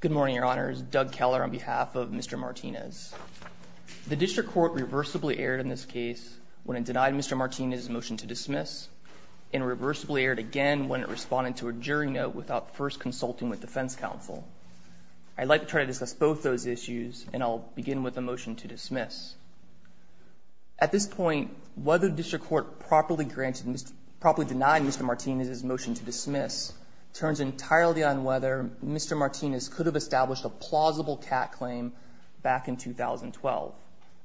Good morning, Your Honors. Doug Keller on behalf of Mr. Martinez. The district court reversibly erred in this case when it denied Mr. Martinez's motion to dismiss, and reversibly erred again when it responded to a jury note without first consulting with defense counsel. I'd like to try to discuss both those issues, and I'll begin with the motion to dismiss. At this point, whether the district court properly denied Mr. Martinez's motion to dismiss, to me, is a matter for the jury to decide. It turns entirely on whether Mr. Martinez could have established a plausible cat claim back in 2012,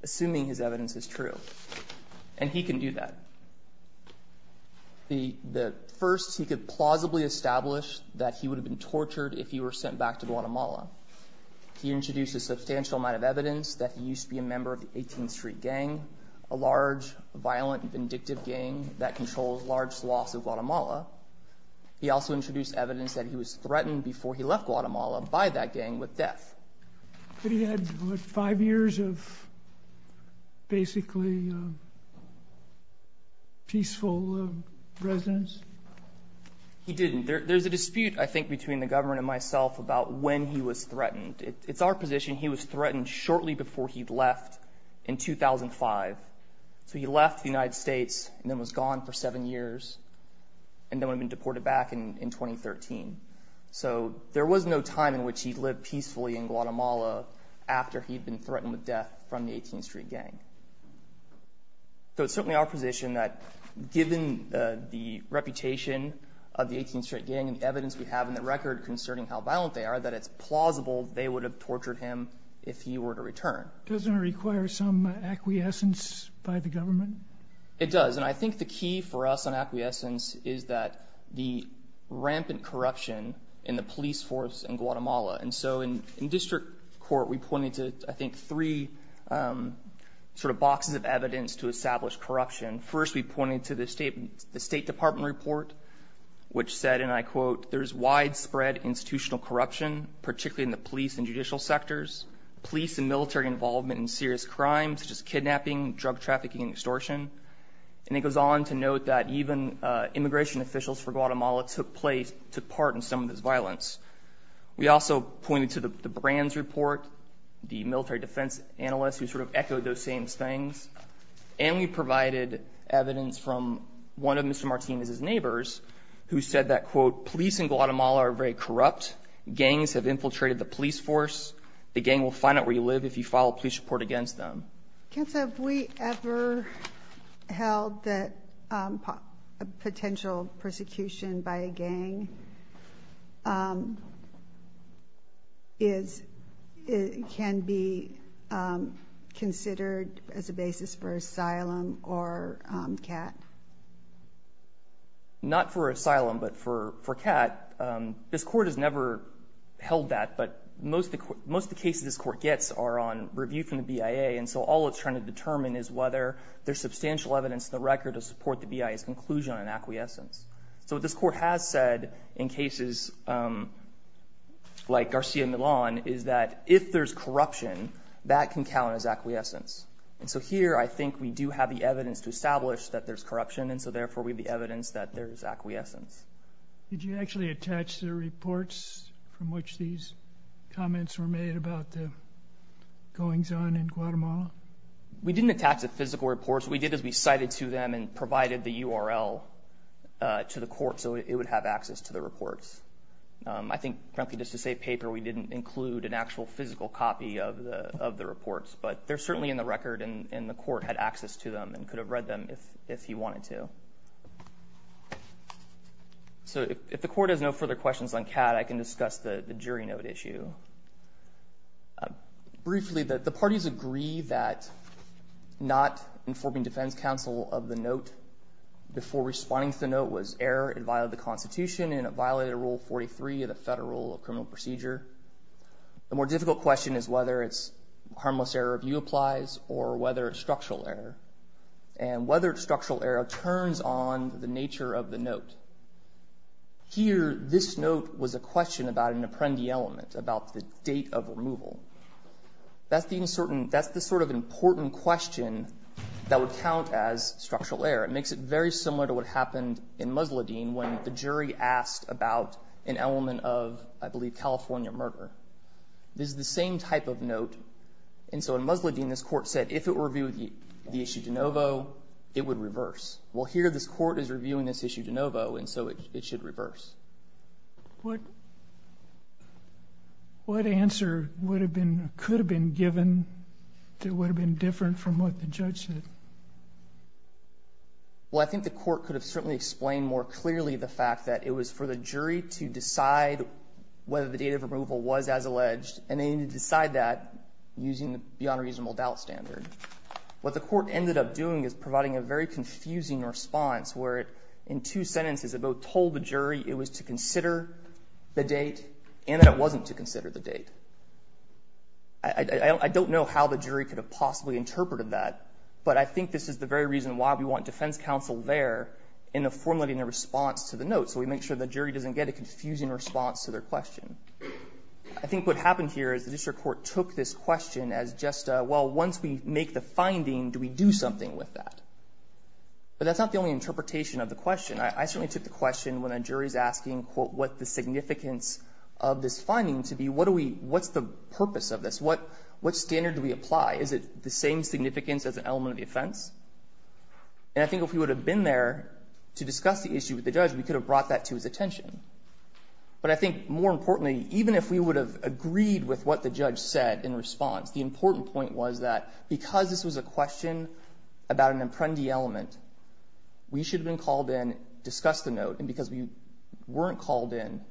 assuming his evidence is true. And he can do that. The first, he could plausibly establish that he would have been tortured if he were sent back to Guatemala. He introduced a substantial amount of evidence that he used to be a member of the 18th Street Gang, a large, violent, vindictive gang that controls large swaths of Guatemala. He also introduced evidence that he was threatened before he left Guatemala by that gang with death. But he had, what, five years of basically peaceful residence? He didn't. There's a dispute, I think, between the government and myself about when he was threatened. It's our position he was threatened shortly before he left in 2005. So he left the United States and then was gone for seven years, and then would have been deported back in 2013. So there was no time in which he'd lived peacefully in Guatemala after he'd been threatened with death from the 18th Street Gang. So it's certainly our position that given the reputation of the 18th Street Gang and the evidence we have in the record concerning how violent they are, that it's plausible they would have tortured him if he were to return. Doesn't it require some acquiescence by the government? It does. And I think the key for us on acquiescence is that the rampant corruption in the police force in Guatemala. And so in district court we pointed to, I think, three sort of boxes of evidence to establish corruption. First, we pointed to the State Department report, which said, and I quote, there's widespread institutional corruption, particularly in the police and judicial sectors, police and military involvement in serious crimes such as kidnapping, drug trafficking, and extortion. And it goes on to note that even immigration officials for Guatemala took part in some of this violence. We also pointed to the Brands report, the military defense analyst who sort of echoed those same things. And we provided evidence from one of Mr. Martinez's neighbors who said that, quote, police in Guatemala are very corrupt. Gangs have infiltrated the police force. The gang will find out where you live if you file a police report against them. Counsel, have we ever held that potential persecution by a gang can be considered as a basis for asylum or CAT? Not for asylum, but for CAT. This court has never held that. But most of the cases this court gets are on review from the BIA. And so all it's trying to determine is whether there's substantial evidence in the record to support the BIA's conclusion on acquiescence. So what this court has said in cases like Garcia Milan is that if there's corruption, that can count as acquiescence. And so here I think we do have the evidence to establish that there's corruption, and so therefore we have the evidence that there's acquiescence. Did you actually attach the reports from which these comments were made about the goings on in Guatemala? We didn't attach the physical reports. What we did is we cited to them and provided the URL to the court so it would have access to the reports. I think, frankly, just to say paper, we didn't include an actual physical copy of the reports. But they're certainly in the record and the court had access to them and could have read them if he wanted to. So if the court has no further questions on CAT, I can discuss the jury note issue. Briefly, the parties agree that not informing defense counsel of the note before responding to the note was error. It violated the Constitution and it violated Rule 43 of the Federal Criminal Procedure. The more difficult question is whether it's harmless error review applies or whether it's structural error. And whether structural error turns on the nature of the note. Here, this note was a question about an apprendi element, about the date of removal. That's the sort of important question that would count as structural error. It makes it very similar to what happened in Musladeen when the jury asked about an element of, I believe, California murder. This is the same type of note. And so in Musladeen, this court said if it reviewed the issue de novo, it would reverse. Well, here this court is reviewing this issue de novo and so it should reverse. What answer could have been given that would have been different from what the judge said? Well, I think the court could have certainly explained more clearly the fact that it was for the jury to decide whether the date of removal was as alleged. And they need to decide that using the beyond reasonable doubt standard. What the court ended up doing is providing a very confusing response where it, in two sentences, it both told the jury it was to consider the date and that it wasn't to consider the date. I don't know how the jury could have possibly interpreted that, but I think this is the very reason why we want defense counsel there in formulating a response to the note. So we make sure the jury doesn't get a confusing response to their question. I think what happened here is the district court took this question as just, well, once we make the finding, do we do something with that? But that's not the only interpretation of the question. I certainly took the question when a jury is asking, quote, what the significance of this finding to be. What's the purpose of this? What standard do we apply? Is it the same significance as an element of the offense? And I think if we would have been there to discuss the issue with the judge, we could have brought that to his attention. But I think more importantly, even if we would have agreed with what the judge said in response, the important point was that because this was a question about an element, we didn't discuss the note, and because we weren't called in,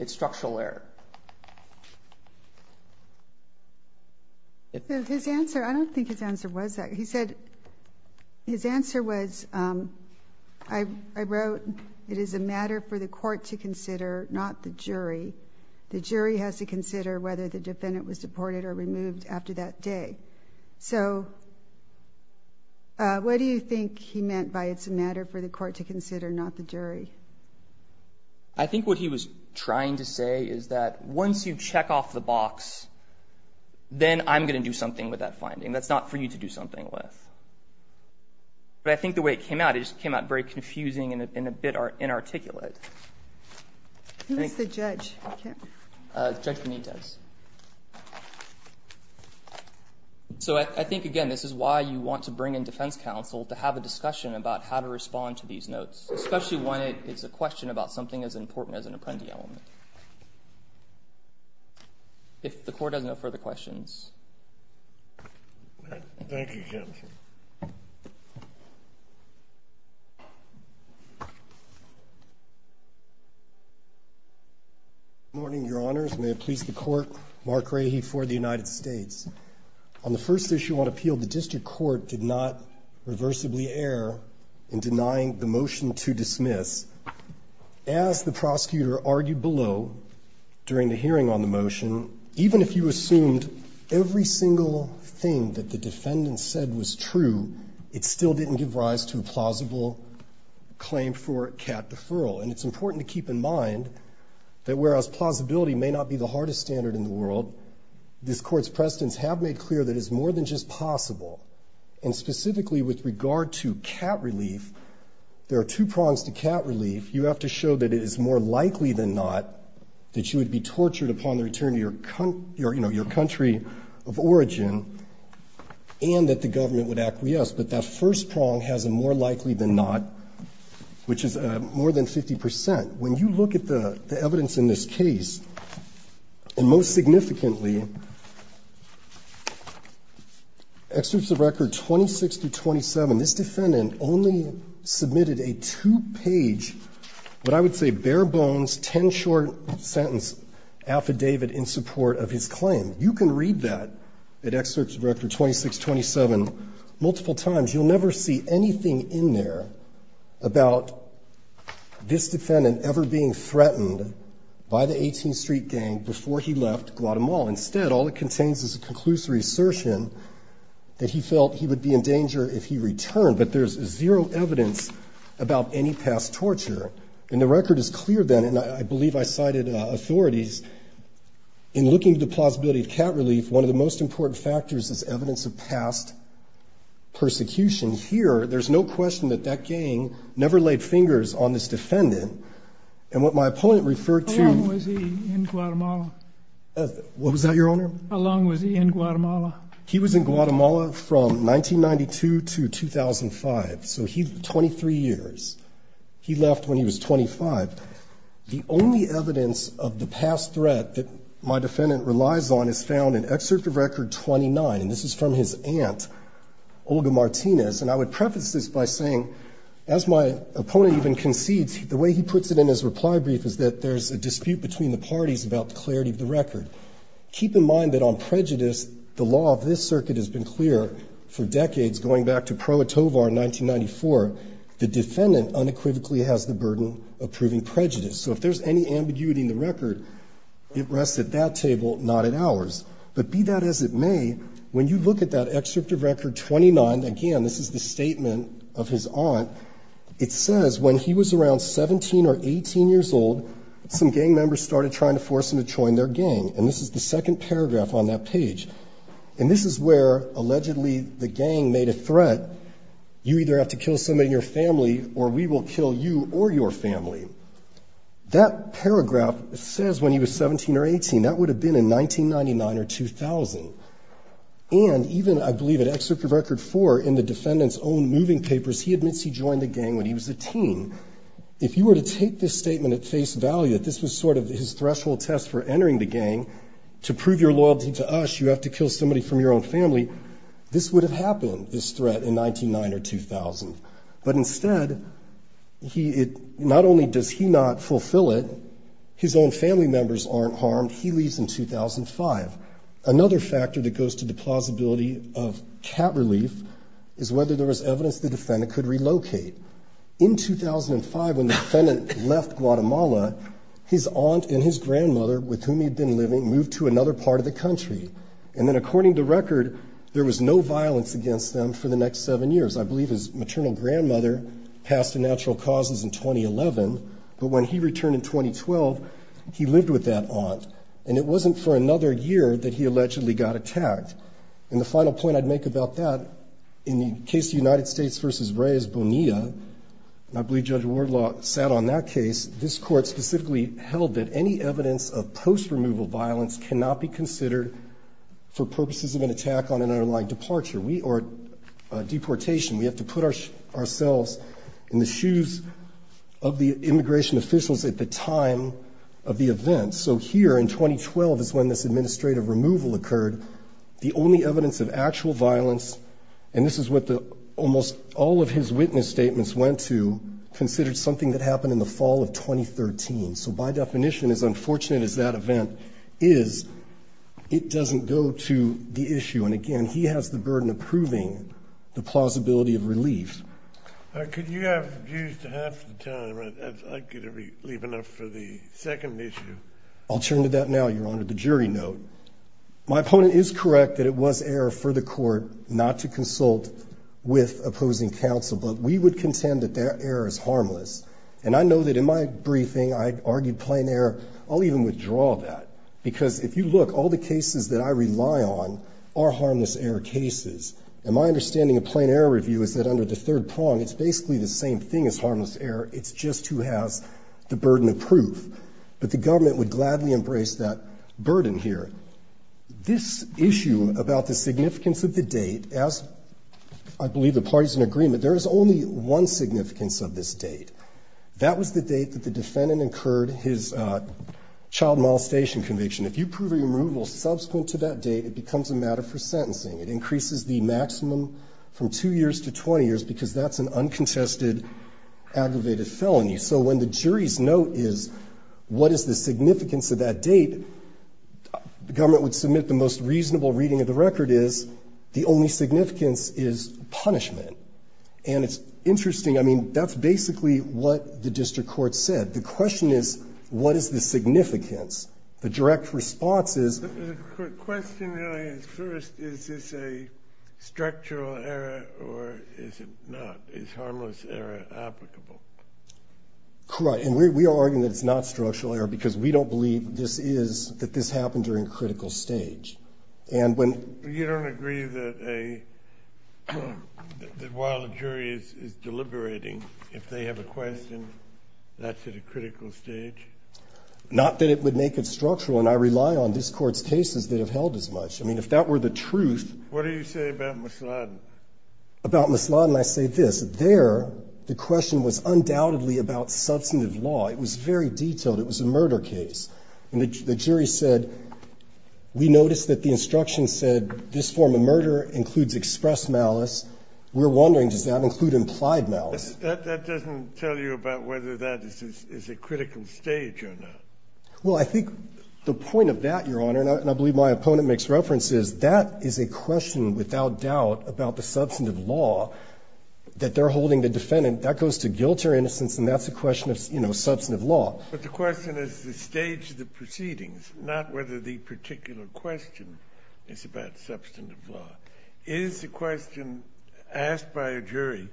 it's structural error. His answer, I don't think his answer was that. He said, his answer was, I wrote, it is a matter for the court to consider, not the jury. The jury has to consider whether the defendant was deported or removed after that day. So what do you think he meant by it's a matter for the court to consider, not the jury? I think what he was trying to say is that once you check off the box, then I'm going to do something with that finding. That's not for you to do something with. But I think the way it came out, it just came out very confusing and a bit inarticulate. Who is the judge? Judge Benitez. So I think, again, this is why you want to bring in defense counsel to have a discussion about how to respond to these notes, especially when it is a question about something as important as an apprendee element. If the court has no further questions. Thank you, Judge. Good morning, Your Honors. May it please the Court. Mark Rahe for the United States. On the first issue on appeal, the district court did not reversibly err in denying the motion to dismiss. As the prosecutor argued below during the hearing on the motion, even if you assumed every single thing that the defendant said was true, it still didn't give rise to a plausible claim for cat deferral. And it's important to keep in mind that whereas plausibility may not be the hardest standard in the world, this Court's precedents have made clear that it's more than just possible. And specifically with regard to cat relief, there are two prongs to cat relief. You have to show that it is more likely than not that you would be tortured upon the return to your country of origin and that the government would acquiesce. But that first prong has a more likely than not, which is more than 50 percent. When you look at the evidence in this case, and most significantly, Excerpts of Record 26-27, this defendant only submitted a two-page, what I would say bare-bones, ten-short sentence affidavit in support of his claim. You can read that at Excerpts of Record 26-27 multiple times. You'll never see anything in there about this defendant ever being threatened by the 18th Street Gang before he left Guatemala. Instead, all it contains is a conclusive assertion that he felt he would be in danger if he returned. But there's zero evidence about any past torture. And the record is clear then, and I believe I cited authorities, in looking at the plausibility of cat relief, one of the most important factors is evidence of past persecution. Here, there's no question that that gang never laid fingers on this defendant. And what my opponent referred to ---- How long was he in Guatemala? What was that, Your Honor? How long was he in Guatemala? He was in Guatemala from 1992 to 2005, so 23 years. He left when he was 25. The only evidence of the past threat that my defendant relies on is found in Excerpt of Record 29, and this is from his aunt, Olga Martinez. And I would preface this by saying, as my opponent even concedes, the way he puts it in his reply brief is that there's a dispute between the parties about the clarity of the record. Keep in mind that on prejudice, the law of this circuit has been clear for decades, going back to Pro Etovar in 1994, the defendant unequivocally has the burden of proving prejudice. So if there's any ambiguity in the record, it rests at that table, not at ours. But be that as it may, when you look at that Excerpt of Record 29, again, this is the statement of his aunt, it says when he was around 17 or 18 years old, some gang members started trying to force him to join their gang. And this is the second paragraph on that page. And this is where, allegedly, the gang made a threat. You either have to kill somebody in your family, or we will kill you or your family. That paragraph says when he was 17 or 18. That would have been in 1999 or 2000. And even, I believe, at Excerpt of Record 4, in the defendant's own moving papers, he admits he joined the gang when he was a teen. If you were to take this statement at face value, that this was sort of his threshold test for entering the gang, to prove your loyalty to us, you have to kill somebody from your own family, this would have happened, this threat, in 1999 or 2000. But instead, not only does he not fulfill it, his own family members aren't harmed, he leaves in 2005. Another factor that goes to the plausibility of cat relief is whether there was evidence the defendant could relocate. In 2005, when the defendant left Guatemala, his aunt and his grandmother, with whom he had been living, moved to another part of the country. And then, according to record, there was no violence against them for the next seven years. I believe his maternal grandmother passed to natural causes in 2011. But when he returned in 2012, he lived with that aunt. And it wasn't for another year that he allegedly got attacked. And the final point I'd make about that, in the case of United States v. Reyes Bonilla, and I believe Judge Wardlaw sat on that case, this court specifically held that any evidence of post-removal violence cannot be considered for purposes of an attack on an underlying departure or deportation. We have to put ourselves in the shoes of the immigration officials at the time of the event. So here in 2012 is when this administrative removal occurred. The only evidence of actual violence, and this is what almost all of his witness statements went to, considered something that happened in the fall of 2013. So by definition, as unfortunate as that event is, it doesn't go to the issue. And, again, he has the burden of proving the plausibility of relief. Could you have used half the time? I could leave enough for the second issue. I'll turn to that now, Your Honor, the jury note. My opponent is correct that it was error for the court not to consult with opposing counsel, but we would contend that that error is harmless. And I know that in my briefing I argued plain error. I'll even withdraw that because if you look, all the cases that I rely on are harmless error cases. And my understanding of plain error review is that under the third prong, it's basically the same thing as harmless error. It's just who has the burden of proof. But the government would gladly embrace that burden here. This issue about the significance of the date, as I believe the parties in agreement, there is only one significance of this date. That was the date that the defendant incurred his child molestation conviction. If you prove a removal subsequent to that date, it becomes a matter for sentencing. It increases the maximum from 2 years to 20 years because that's an uncontested aggravated felony. So when the jury's note is what is the significance of that date, the government would submit the most reasonable reading of the record is the only significance is punishment. And it's interesting. I mean, that's basically what the district court said. The question is what is the significance. The direct response is. The question really is first, is this a structural error or is it not? Is harmless error applicable? Correct. And we are arguing that it's not structural error because we don't believe this is, that this happened during critical stage. And when. You don't agree that a, that while a jury is deliberating, if they have a question, that's at a critical stage? Not that it would make it structural. And I rely on this Court's cases that have held as much. I mean, if that were the truth. What do you say about Misladen? About Misladen, I say this. There, the question was undoubtedly about substantive law. It was very detailed. It was a murder case. And the jury said, we noticed that the instruction said this form of murder includes express malice. We're wondering, does that include implied malice? That doesn't tell you about whether that is a critical stage or not. Well, I think the point of that, Your Honor, and I believe my opponent makes reference, is that is a question without doubt about the substantive law that they're holding the defendant. That goes to guilt or innocence, and that's a question of, you know, substantive law. But the question is the stage of the proceedings, not whether the particular question is about substantive law. Is the question asked by a jury,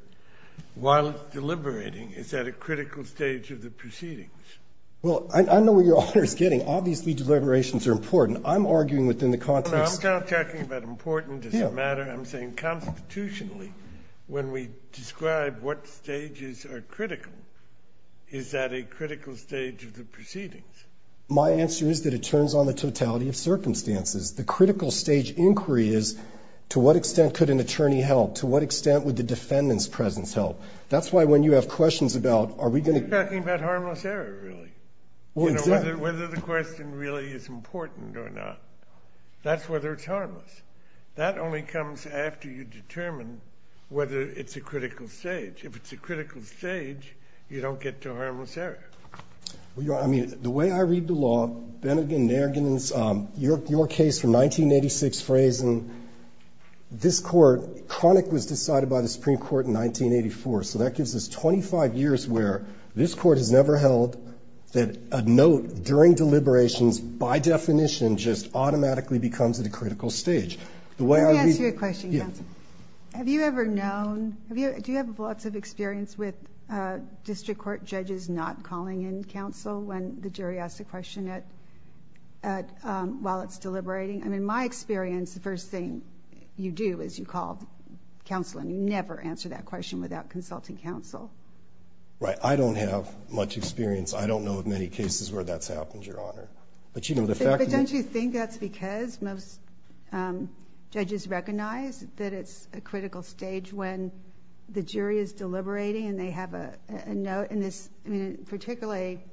while it's deliberating, is that a critical stage of the proceedings? Well, I know what Your Honor is getting. Obviously, deliberations are important. I'm arguing within the context of the case. I'm not talking about important as a matter. I'm saying constitutionally, when we describe what stages are critical, is that a critical stage of the proceedings? My answer is that it turns on the totality of circumstances. The critical stage inquiry is, to what extent could an attorney help? To what extent would the defendant's presence help? That's why, when you have questions about, are we going to get to that? We're talking about harmless error, really. Well, exactly. You know, whether the question really is important or not. That's whether it's harmless. That only comes after you determine whether it's a critical stage. If it's a critical stage, you don't get to harmless error. Well, Your Honor, I mean, the way I read the law, Bennigan, Nairganan, your case from 1986, Frazen, this Court, chronic was decided by the Supreme Court in 1984. So that gives us 25 years where this Court has never held that a note during deliberations by definition just automatically becomes at a critical stage. Let me ask you a question, counsel. Have you ever known, do you have lots of experience with district court judges not calling in counsel when the jury asks a question while it's deliberating? I mean, my experience, the first thing you do is you call counsel and you never answer that question without consulting counsel. Right. I don't have much experience. I don't know of many cases where that's happened, Your Honor. But don't you think that's because most judges recognize that it's a critical stage when the jury is deliberating and they have a note? And this, I mean, particularly,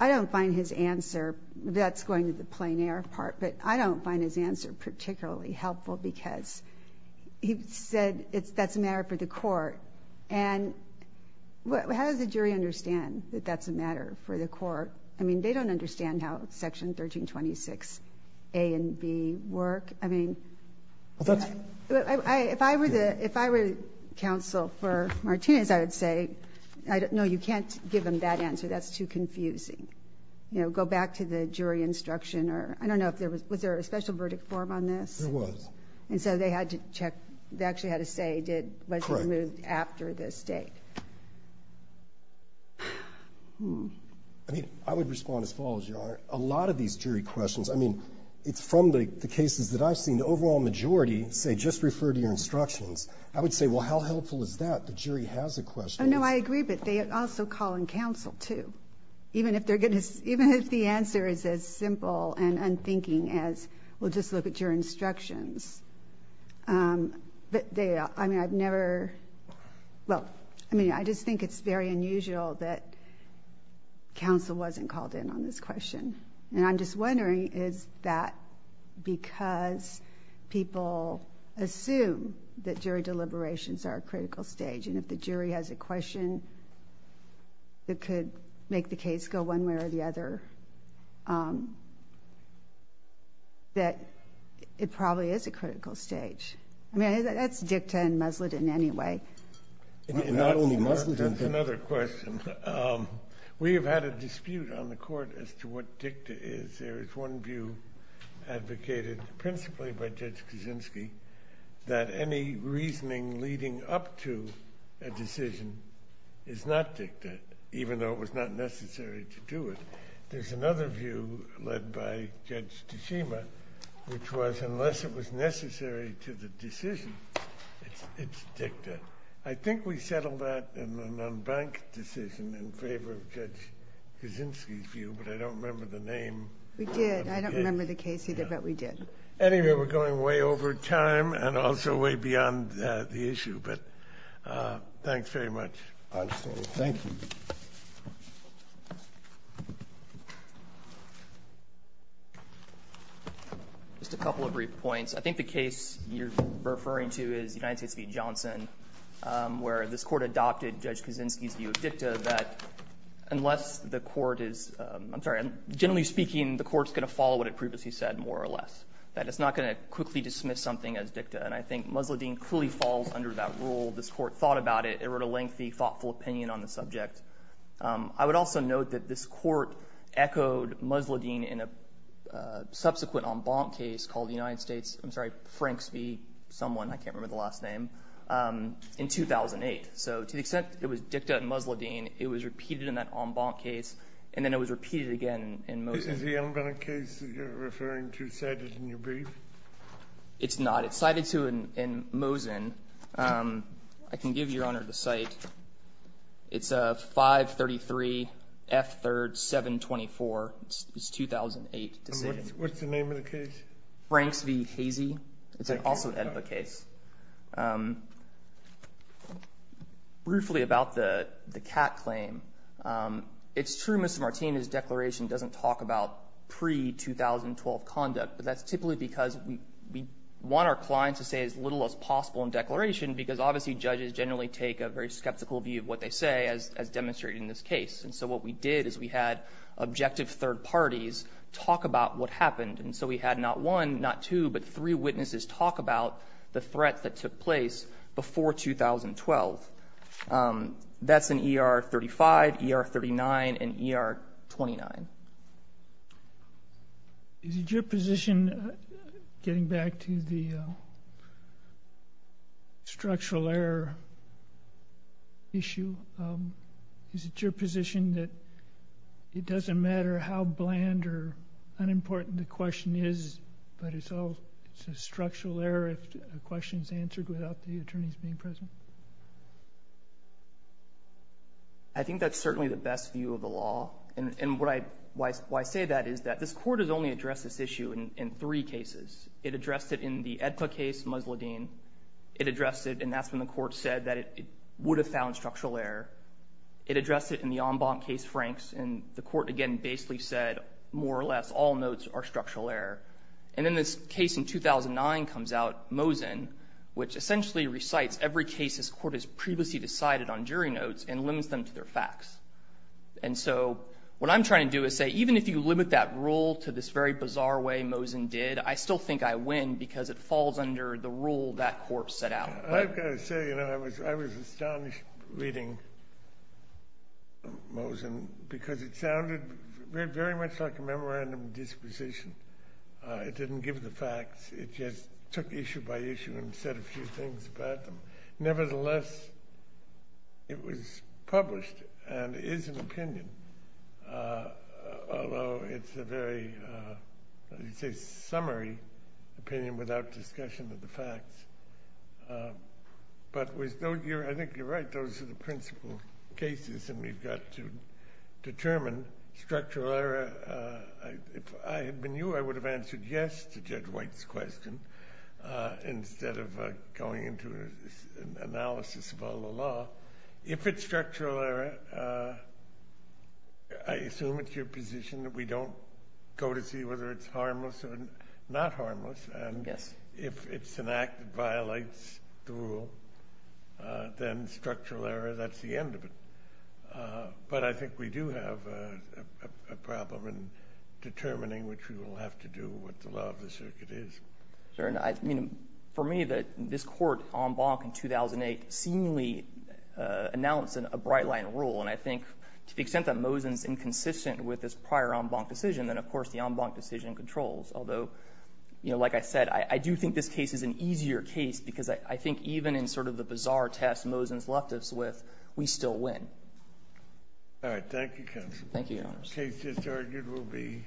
I don't find his answer, that's going to the plein air part, but I don't find his answer particularly helpful because he said that's a matter for the court. And how does the jury understand that that's a matter for the court? I mean, they don't understand how Section 1326A and B work. I mean, if I were counsel for Martinez, I would say, no, you can't give them that answer. That's too confusing. You know, go back to the jury instruction or I don't know if there was, was there a special verdict form on this? There was. And so they had to check. They actually had to say what was moved after the state. I mean, I would respond as follows, Your Honor. A lot of these jury questions, I mean, it's from the cases that I've seen, the overall majority say just refer to your instructions. I would say, well, how helpful is that? The jury has a question. No, I agree, but they also call in counsel, too, even if the answer is as simple and unthinking as, well, just look at your instructions. But they, I mean, I've never, well, I mean, I just think it's very unusual that counsel wasn't called in on this question. And I'm just wondering, is that because people assume that jury deliberations are a critical stage and if the jury has a question that could make the case go one way or the other, that it probably is a critical stage? I mean, that's dicta and muslet in any way. And not only muslet. That's another question. We have had a dispute on the court as to what dicta is. There is one view advocated principally by Judge Kaczynski that any reasoning leading up to a decision is not dicta, even though it was not necessary to do it. There's another view led by Judge Tashima, which was unless it was necessary to the decision, it's dicta. I think we settled that in an unbanked decision in favor of Judge Kaczynski's view, but I don't remember the name. We did. I don't remember the case either, but we did. Anyway, we're going way over time and also way beyond the issue. But thanks very much. Absolutely. Thank you. Just a couple of brief points. I think the case you're referring to is United States v. Johnson, where this court adopted Judge Kaczynski's view of dicta that unless the court is ‑‑ I'm sorry, generally speaking, the court is going to follow what it previously said more or less, that it's not going to quickly dismiss something as dicta. And I think musletine clearly falls under that rule. This court thought about it. It wrote a lengthy, thoughtful opinion on the subject. I would also note that this court echoed musletine in a subsequent en banc case called the United States ‑‑ I'm sorry, Franks v. someone, I can't remember the last name, in 2008. So to the extent it was dicta and musletine, it was repeated in that en banc case, and then it was repeated again in Mosin. Is the en banc case that you're referring to cited in your brief? It's not. It's cited, too, in Mosin. I can give Your Honor the cite. It's a 533 F3rd 724. It's 2008 decision. What's the name of the case? Franks v. Hazy. It's also an en banc case. Briefly about the Catt claim, it's true, Mr. Martin, his declaration doesn't talk about pre‑2012 conduct, but that's typically because we want our clients to say as little as possible in declaration, because obviously judges generally take a very skeptical view of what they say as demonstrated in this case. And so what we did is we had objective third parties talk about what happened. And so we had not one, not two, but three witnesses talk about the threat that took place before 2012. That's in ER 35, ER 39, and ER 29. Is it your position, getting back to the structural error issue, is it your position that it doesn't matter how bland or unimportant the question is, but it's a structural error if the question is answered without the attorneys being present? I think that's certainly the best view of the law. And why I say that is that this court has only addressed this issue in three cases. It addressed it in the EDPA case, Musladeen. It addressed it, and that's when the court said that it would have found structural error. It addressed it in the en banc case, Franks. And the court, again, basically said more or less all notes are structural error. And then this case in 2009 comes out, Mosin, which essentially recites every case this court has previously decided on jury notes and lends them to their facts. And so what I'm trying to do is say even if you limit that rule to this very bizarre way Mosin did, I still think I win because it falls under the rule that court set out. I've got to say, you know, I was astonished reading Mosin because it sounded very much like a memorandum of disposition. It didn't give the facts. It just took issue by issue and said a few things about them. Nevertheless, it was published and is an opinion, although it's a very, I would say, summary opinion without discussion of the facts. But I think you're right, those are the principal cases, and we've got to determine structural error. If I had been you, I would have answered yes to Judge White's question instead of going into an analysis of all the law. If it's structural error, I assume it's your position that we don't go to see whether it's harmless or not harmless. And if it's an act that violates the rule, then structural error, that's the end of it. But I think we do have a problem in determining which we will have to do, what the law of the circuit is. For me, this court, en banc in 2008, seemingly announced a bright-line rule, and I think to the extent that Mosin's inconsistent with this prior en banc decision, then, of course, the en banc decision controls. Although, like I said, I do think this case is an easier case because I think even in sort of the bizarre test Mosin's left us with, we still win. All right, thank you, counsel. Thank you, Your Honors. The case that's argued will be.